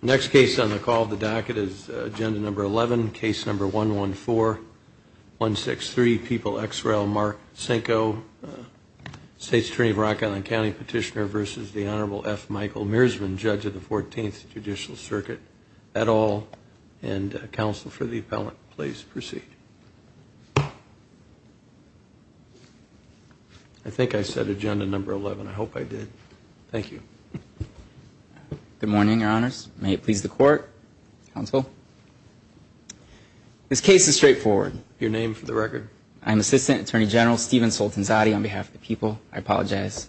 Next case on the call of the docket is agenda number 11, case number 114, 163 People ex rel Mark Senko, State's Attorney of Rock Island County Petitioner versus the Honorable F. Michael Meersman, Judge of the 14th Judicial Circuit at all and Counsel for the Appellant. Please proceed. I think I said agenda number 11. I hope I did. Thank you. Good morning, Your Honors. May it please the court, counsel. This case is straightforward. Your name for the record? I'm Assistant Attorney General Stephen Soltanzati on behalf of the people. I apologize.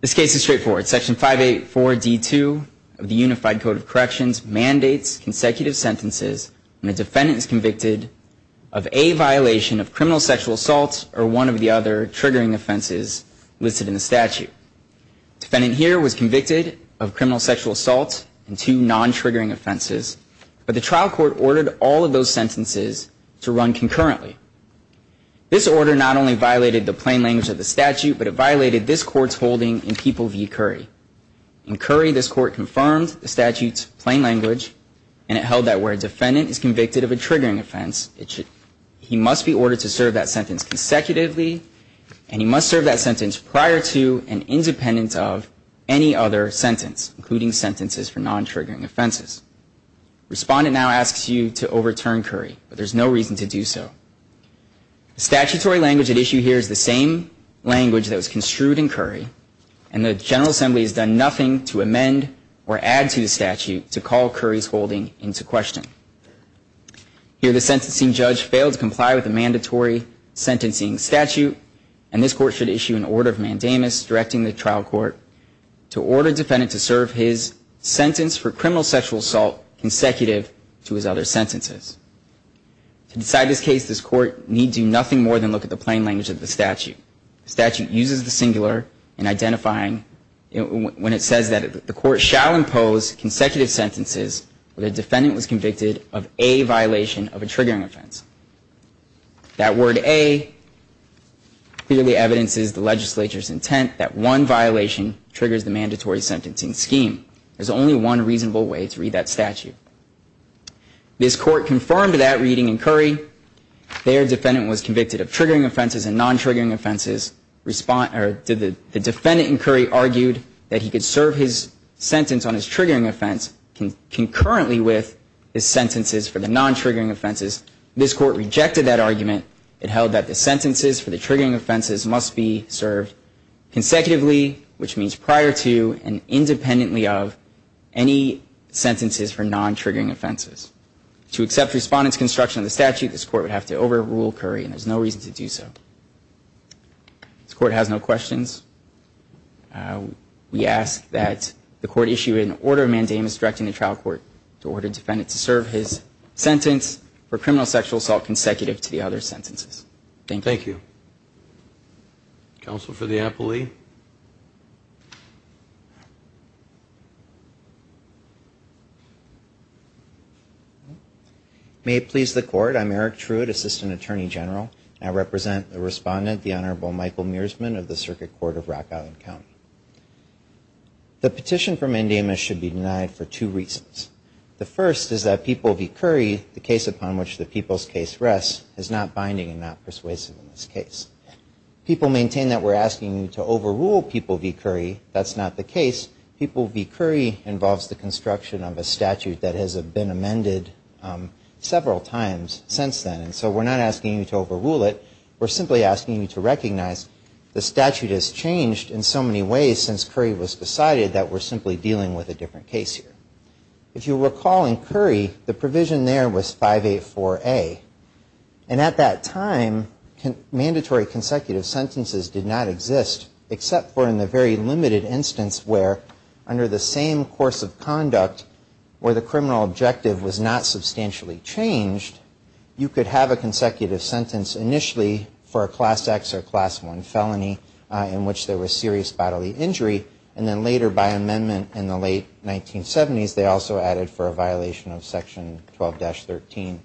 This case is straightforward. Section 584 D2 of the Unified Code of Corrections mandates consecutive sentences when a defendant is convicted of a violation of criminal sexual assault or one of the other triggering offenses listed in the statute. Defendant here was convicted of criminal sexual assault and two non-triggering offenses, but the trial court ordered all of those sentences to run concurrently. This order not only violated the plain language of the statute, but it violated this court's holding in People v. Curry. In Curry, this court confirmed the statute's plain language and it held that where a defendant is convicted of a triggering offense, he must be ordered to serve that sentence consecutively, and he must serve that sentence prior to and independent of any other sentence, including sentences for non-triggering offenses. Respondent now asks you to overturn Curry, but there's no reason to do so. The statutory language at issue here is the same language that was construed in Curry, and the General Assembly has done nothing to amend or add to the statute to call Curry's holding into question. Here, the sentencing judge failed to comply with the mandatory sentencing statute, and this court should issue an order of mandamus directing the trial court to order defendant to serve his sentence for criminal sexual assault consecutive to his other sentences. To decide this case, this court needs to do nothing more than look at the plain language of the statute. The statute uses the singular in identifying when it says that the court shall impose consecutive sentences where the defendant was convicted of a violation of a triggering offense. That word a clearly evidences the legislature's intent that one violation triggers the mandatory sentencing scheme. There's only one reasonable way to read that statute. This court confirmed that reading in Curry. Their defendant was convicted of triggering offenses and non-triggering offenses. The defendant in Curry argued that he could serve his sentence on his triggering offense concurrently with his sentences for the non-triggering offenses. This court rejected that argument. It held that the sentences for the triggering offenses must be served consecutively, which means prior to and independently of any sentences for non-triggering offenses. To accept respondent's construction of the statute, this court would have to overrule Curry, and there's no reason to do so. This court has no questions. We ask that the court issue an order mandamus directing the trial court to order defendant to serve his sentence for criminal sexual assault consecutive to the other sentences. Thank you. Thank you. Counsel for the appellee. May it please the court. I'm Eric Truitt, Assistant Attorney General. I represent the respondent, the Honorable Michael Mearsman of the Circuit Court of Rock Island County. The petition for mandamus should be denied for two reasons. The first is that people v. Curry, the case upon which the people's case rests, is not binding and not persuasive in this case. People maintain that we're asking you to overrule people v. Curry. That's not the case. People v. Curry involves the construction of a statute that has been amended several times since then, and so we're not asking you to overrule it. We're simply asking you to recognize the statute has changed in so many ways since Curry was decided that we're simply dealing with a different case here. If you recall in Curry, the provision there was 584A, and at that time, mandatory consecutive sentences did not exist except for in the very limited instance where under the same course of conduct where the criminal objective was not substantially changed, you could have a consecutive sentence initially for a class X or class 1 felony in which there was serious bodily injury, and then later by amendment in the late 1970s, they also added for a violation of section 12-13,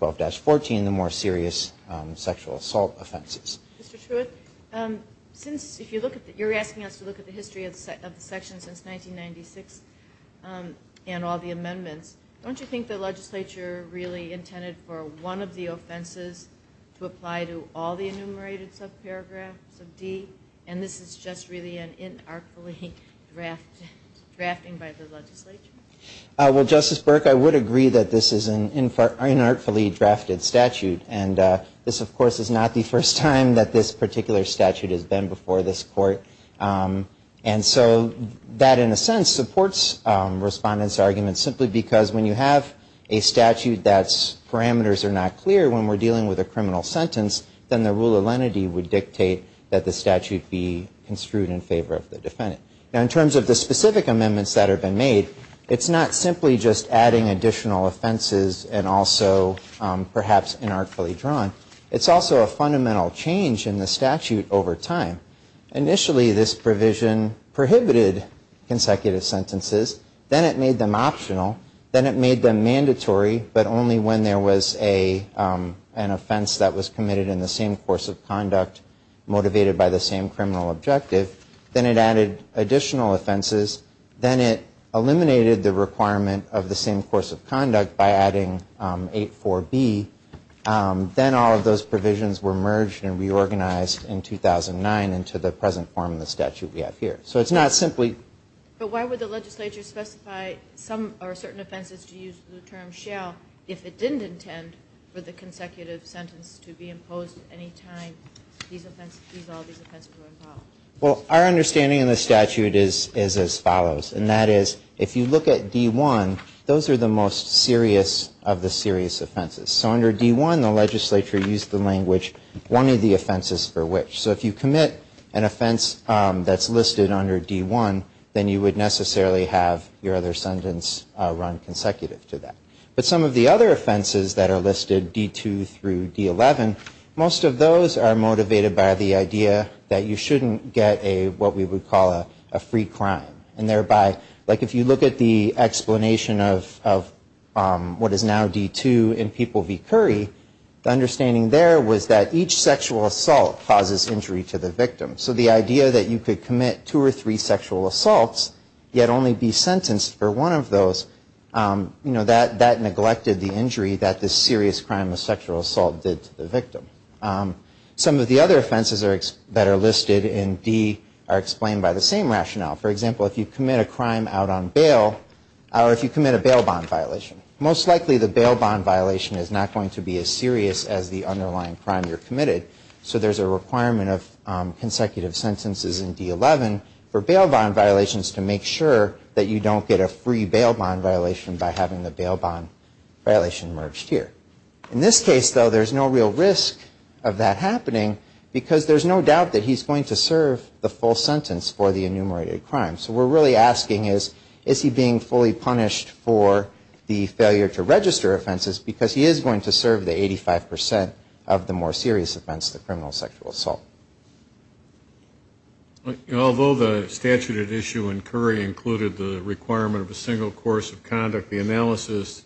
12-14, the more serious sexual assault offenses. Ms. Laird Mr. Truitt, since you're asking us to look at the history of the section since 1996 and all the amendments, don't you think the legislature really intended for one of the offenses to apply to all the enumerated subparagraphs of D, and this is just really an inartfully draft, drafting by the legislature? Mr. Truitt Well, Justice Burke, I would agree that this is an inartfully drafted statute, and this of course is not the first time that this particular statute has been before this Court, and so that in a sense supports Respondent's view that if we have a statute that's parameters are not clear when we're dealing with a criminal sentence, then the rule of lenity would dictate that the statute be construed in favor of the defendant. Now, in terms of the specific amendments that have been made, it's not simply just adding additional offenses and also perhaps inartfully drawn. It's also a fundamental change in the statute over time. Initially, this provision prohibited consecutive sentences, then it made them optional, then it made them mandatory, but only when there was an offense that was committed in the same course of conduct motivated by the same criminal objective, then it added additional offenses, then it eliminated the requirement of the same course of conduct by adding 8.4b, then all of those provisions were merged and reorganized in 2009 into the present form of the statute we have here. So it's not simply But why would the legislature specify some or certain offenses to use the term shall if it didn't intend for the consecutive sentence to be imposed any time these offenses, all these offenses were involved? Well, our understanding in the statute is as follows, and that is if you look at D1, those are the most serious of the serious offenses. So under D1, the legislature used the language, one of the offenses for which. So if you commit an offense that's listed under D1, then you would necessarily have your other sentence run consecutive to that. But some of the other offenses that are listed, D2 through D11, most of those are motivated by the idea that you shouldn't get a, what we would call a free crime, and thereby, like if you look at the explanation of what is now D2 in People v. Curry, the understanding there was that each sexual assault causes injury to the victim. So the idea that you could commit two or three sexual assaults, yet only be sentenced for one of those, you know, that neglected the injury that the serious crime of sexual assault did to the victim. Some of the other offenses that are listed in D are explained by the same rationale. For example, if you commit a crime out on bail, or if you commit a bail bond violation, most likely the bail bond violation is not going to be as serious as the underlying crime you're committed. So there's a requirement of consecutive sentences in D11 for bail bond violations to make sure that you don't get a free bail bond violation by having the bail bond violation merged here. In this case, though, there's no real risk of that happening because there's no doubt that he's going to serve the full sentence for the enumerated crime. So we're really asking is, is he being fully punished for the failure to register the more serious offense, the criminal sexual assault? Although the statute at issue in Curry included the requirement of a single course of conduct, the analysis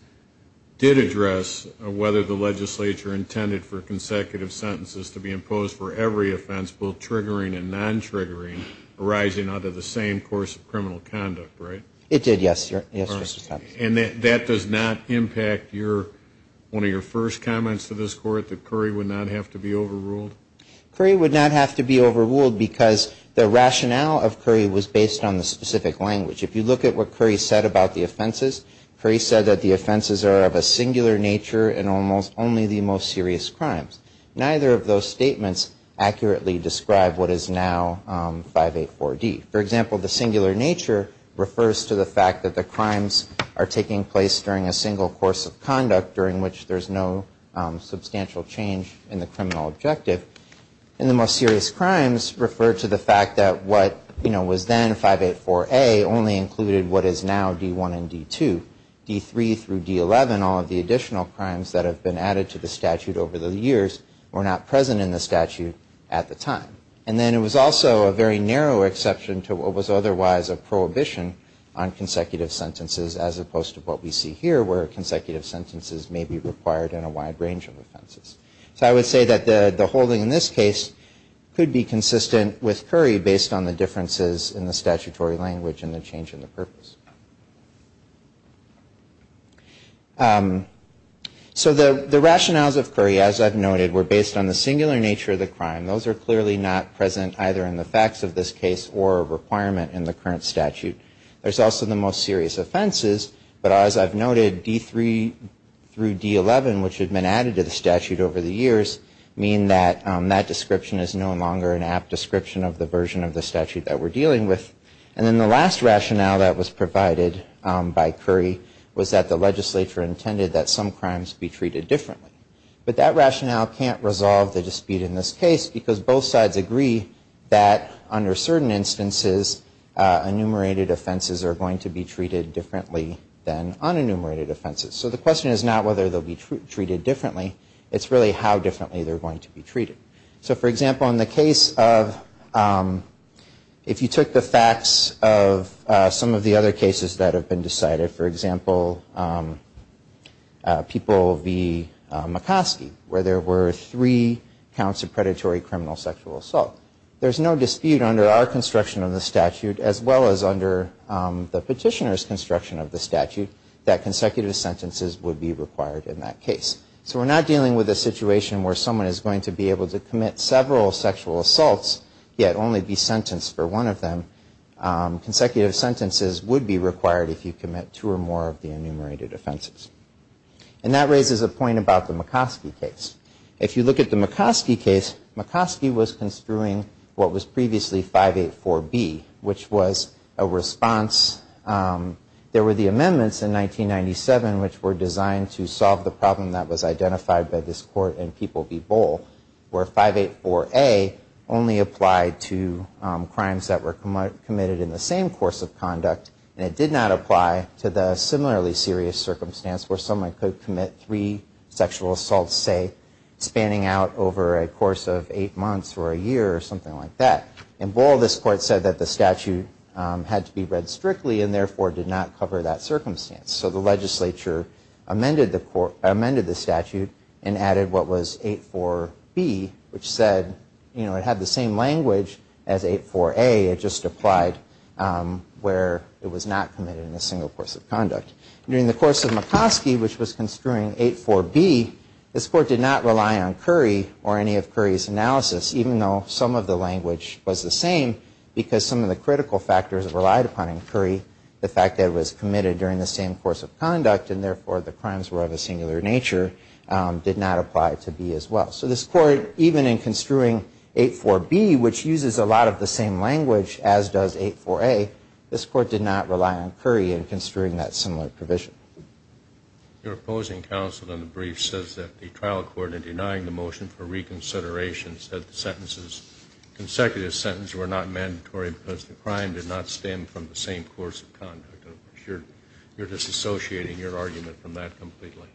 did address whether the legislature intended for consecutive sentences to be imposed for every offense, both triggering and non-triggering, arising out of the same course of criminal conduct, right? It did, yes, yes, Mr. Thompson. And that does not impact your, one of your first comments to this court, that Curry would not have to be overruled? Curry would not have to be overruled because the rationale of Curry was based on the specific language. If you look at what Curry said about the offenses, Curry said that the offenses are of a singular nature and almost only the most serious crimes. Neither of those statements accurately describe what is now 584D. For example, the singular nature refers to the crimes are taking place during a single course of conduct during which there's no substantial change in the criminal objective. And the most serious crimes refer to the fact that what, you know, was then 584A only included what is now D1 and D2. D3 through D11, all of the additional crimes that have been added to the statute over the years were not present in the statute at the time. And then it was also a very narrow exception to what was otherwise a prohibition on consecutive sentences as opposed to what we see here, where consecutive sentences may be required in a wide range of offenses. So I would say that the holding in this case could be consistent with Curry based on the differences in the statutory language and the change in the purpose. So the rationales of Curry, as I've noted, were based on the singular nature of the crime. Those are clearly not present either in the facts of this case or a requirement in the most serious offenses. But as I've noted, D3 through D11, which had been added to the statute over the years, mean that that description is no longer an apt description of the version of the statute that we're dealing with. And then the last rationale that was provided by Curry was that the legislature intended that some crimes be treated differently. But that rationale can't resolve the dispute in this case because both sides agree that under certain instances enumerated offenses are going to be treated differently than unenumerated offenses. So the question is not whether they'll be treated differently. It's really how differently they're going to be treated. So for example, in the case of, if you took the facts of some of the other cases that have been decided, for example, People v. McCoskey, where there were three counts of predatory criminal sexual assault. There's no dispute under our construction of the statute as well as under the petitioner's construction of the statute that consecutive sentences would be required in that case. So we're not dealing with a situation where someone is going to be able to commit several sexual assaults yet only be sentenced for one of them. Consecutive sentences would be required if you commit two or more of the enumerated offenses. And that raises a point about the McCoskey case. If you look at the McCoskey case, McCoskey was construing what was previously 584B, which was a response. There were the amendments in 1997 which were designed to solve the problem that was identified by this Court in People v. Boal where 584A only applied to crimes that were committed in the same course of conduct and it did not apply to the similarly serious circumstance where someone could commit three sexual assaults, say, spanning out over a course of eight months or a year or something like that. In Boal, this Court said that the statute had to be read strictly and therefore did not cover that circumstance. So the legislature amended the statute and added what was 84B which said, you know, it had the same language as 84A, it just applied where it was not committed in a single course of conduct. During the course of McCoskey, which was construing 84B, this Court did not rely on Curry or any of Curry's analysis even though some of the language was the same because some of the critical factors relied upon in Curry, the fact that it was committed during the same course of conduct and therefore the crimes were of a singular nature, did not apply to B as well. So this Court, even in construing 84B, which uses a lot of the same language as does 84A, this Court did not rely on Curry in construing that similar provision. Your opposing counsel in the brief says that the trial court, in denying the motion for reconsideration, said the sentences, consecutive sentences, were not mandatory because the crime did not stem from the same course of conduct. You're disassociating your argument from that completely.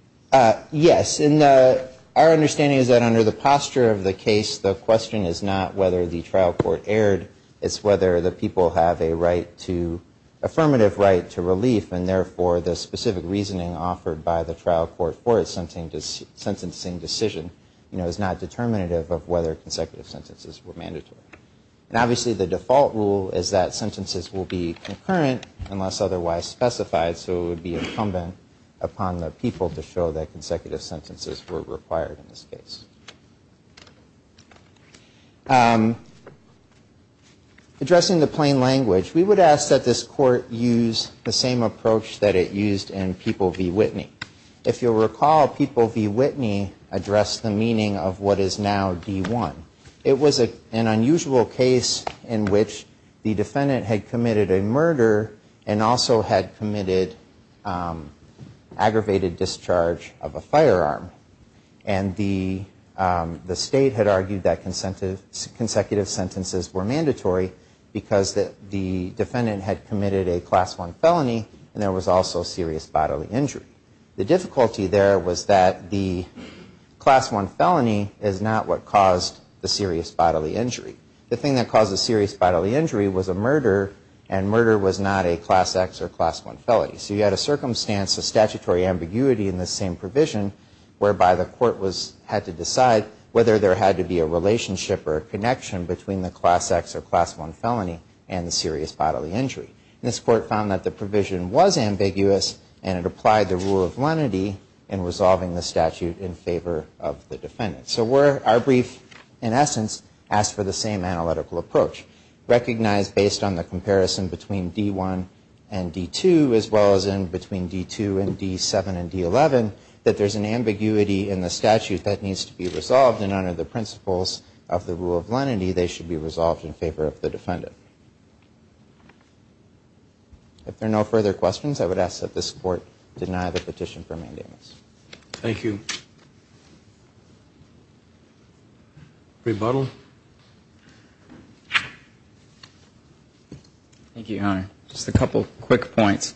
Yes, and our understanding is that under the posture of the case, the question is not whether the trial court erred, it's whether the people have a right to, affirmative right to relief and therefore the specific reasoning offered by the trial court for its sentencing decision is not determinative of whether consecutive sentences were mandatory. And obviously the default rule is that sentences will be concurrent unless otherwise specified so it would be incumbent upon the people to show that consecutive sentences were required in this case. Addressing the plain language, we would ask that this Court use the same approach that it used in People v. Whitney. If you'll recall, People v. Whitney addressed the meaning of what is now D1. It was an unusual case in which the defendant had committed a murder and also had committed aggravated discharge of a firearm and the state had argued that consecutive sentences were mandatory because the defendant had committed a Class 1 felony and there was also serious bodily injury. The difficulty there was that the Class 1 felony is not what caused the serious bodily injury. The thing that caused the serious bodily injury was a murder and murder was not a Class X or Class 1 felony. So you had a circumstance, a statutory ambiguity in this same provision whereby the Court had to decide whether there had to be a relationship or a connection between the Class X or Class 1 felony and the serious bodily injury. This Court found that the provision was ambiguous and it applied the rule of lenity in resolving the statute in favor of the defendant. So our brief, in essence, asked for the same analytical approach recognized based on the clause in between D2 and D7 and D11 that there's an ambiguity in the statute that needs to be resolved and under the principles of the rule of lenity they should be resolved in favor of the defendant. If there are no further questions, I would ask that this Court deny the petition for mandamus. Rebuttal. Thank you, Your Honor. Just a couple of quick points.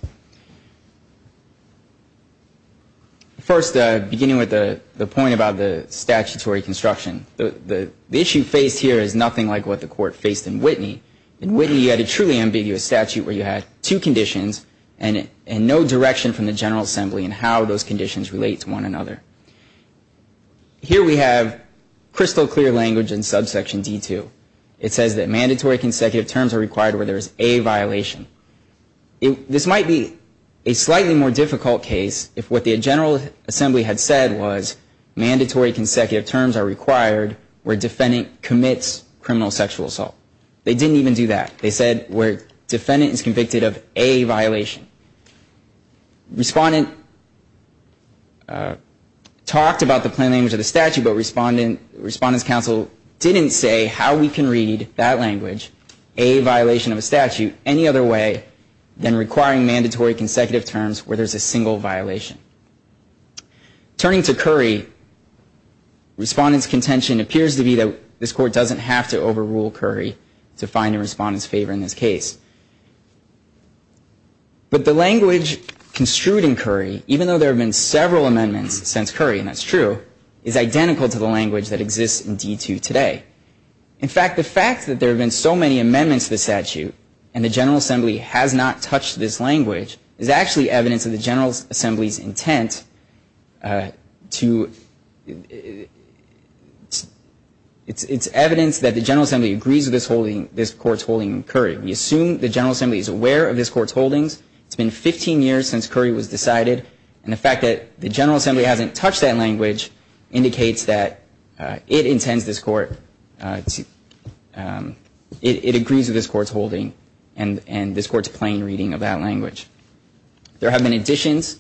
First beginning with the point about the statutory construction, the issue faced here is nothing like what the Court faced in Whitney. In Whitney you had a truly ambiguous statute where you had two conditions and no direction from the General Assembly in how those conditions relate to one another. Here we have crystal clear language in subsection D2. It says that mandatory consecutive terms are required where there is a violation. This might be a slightly more difficult case if what the General Assembly had said was mandatory consecutive terms are required where defendant commits criminal sexual assault. They didn't even do that. They said where defendant is convicted of a violation. Respondent talked about the plain language of the statute, but Respondent's Counsel didn't say how we can read that language, a violation of a statute, any other way than requiring mandatory consecutive terms where there's a single violation. Turning to Curry, Respondent's contention appears to be that this Court doesn't have to overrule Curry to find a Respondent's favor in this case. But the language construed in Curry, even though there have been several amendments since Curry, and that's true, is identical to the language that exists in D2 today. In fact, the fact that there have been so many amendments to the statute and the General Assembly has not touched this language is actually evidence of the General Assembly's intent to, it's evidence that the General Assembly agrees with this holding, this Court's holding in Curry. We assume the General Assembly is aware of this Court's holdings. It's been 15 years since Curry was decided, and the fact that the General Assembly hasn't touched that language indicates that it intends this Court to, it agrees with this Court's holding and this Court's plain reading of that language. There have been additions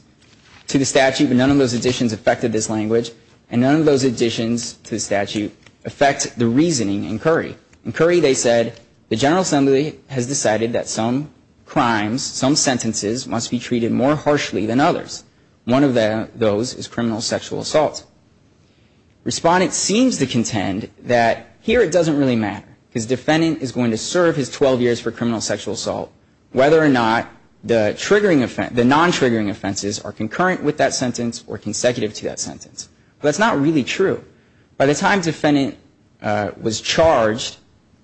to the statute, but none of those additions affected this language, and none of those additions to the statute affect the reasoning in Curry. In Curry, they said, the General Assembly has decided that some crimes, some sentences must be treated more harshly than others. One of those is criminal sexual assault. Respondent seems to contend that here it doesn't really matter, because defendant is going to serve his 12 years for criminal sexual assault, whether or not the triggering offense, the non-triggering offenses are concurrent with that sentence or consecutive to that sentence. But that's not really true. By the time defendant was charged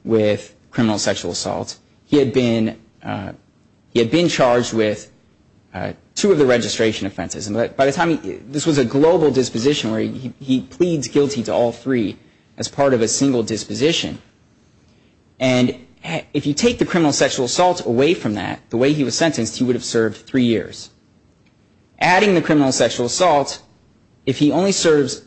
with criminal sexual assault, he had been charged with two of the registration offenses, and by the time, this was a global disposition where he pleads guilty to all three as part of a single disposition, and if you take the criminal sexual assault away from that, the way he was sentenced, he would have served three years. Adding the criminal sexual assault, if he only serves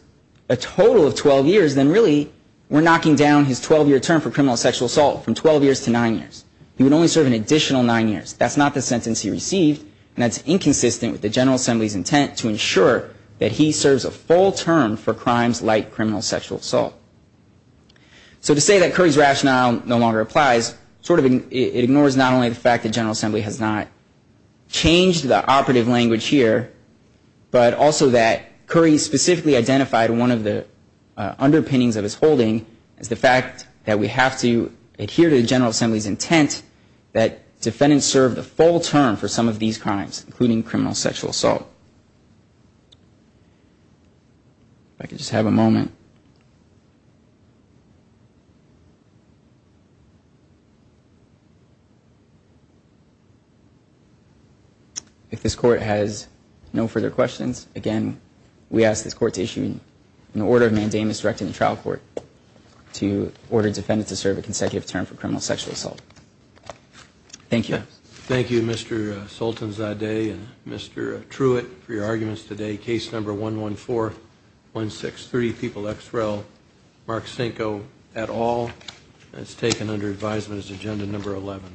a total of 12 years, then really we're knocking down his 12-year term for criminal sexual assault from 12 years to nine years. He would only serve an additional nine years. That's not the sentence he received, and that's inconsistent with the General Assembly's intent to ensure that he serves a full term for crimes like criminal sexual assault. So to say that Curry's rationale no longer applies, it ignores not only the fact that there's a lot of cooperative language here, but also that Curry specifically identified one of the underpinnings of his holding as the fact that we have to adhere to the General Assembly's intent that defendants serve the full term for some of these crimes, including criminal sexual assault. If I could just have a moment. If this Court has no further questions, again, we ask this Court to issue an order of mandamus directed to the trial court to order defendants to serve a consecutive term for criminal sexual assault. Thank you. Thank you, Mr. Sultanzadeh and Mr. Truitt, for your arguments today. Case number 11416, 30 people ex rel., Mark Sinko et al., and it's taken under advisement as agenda number 11.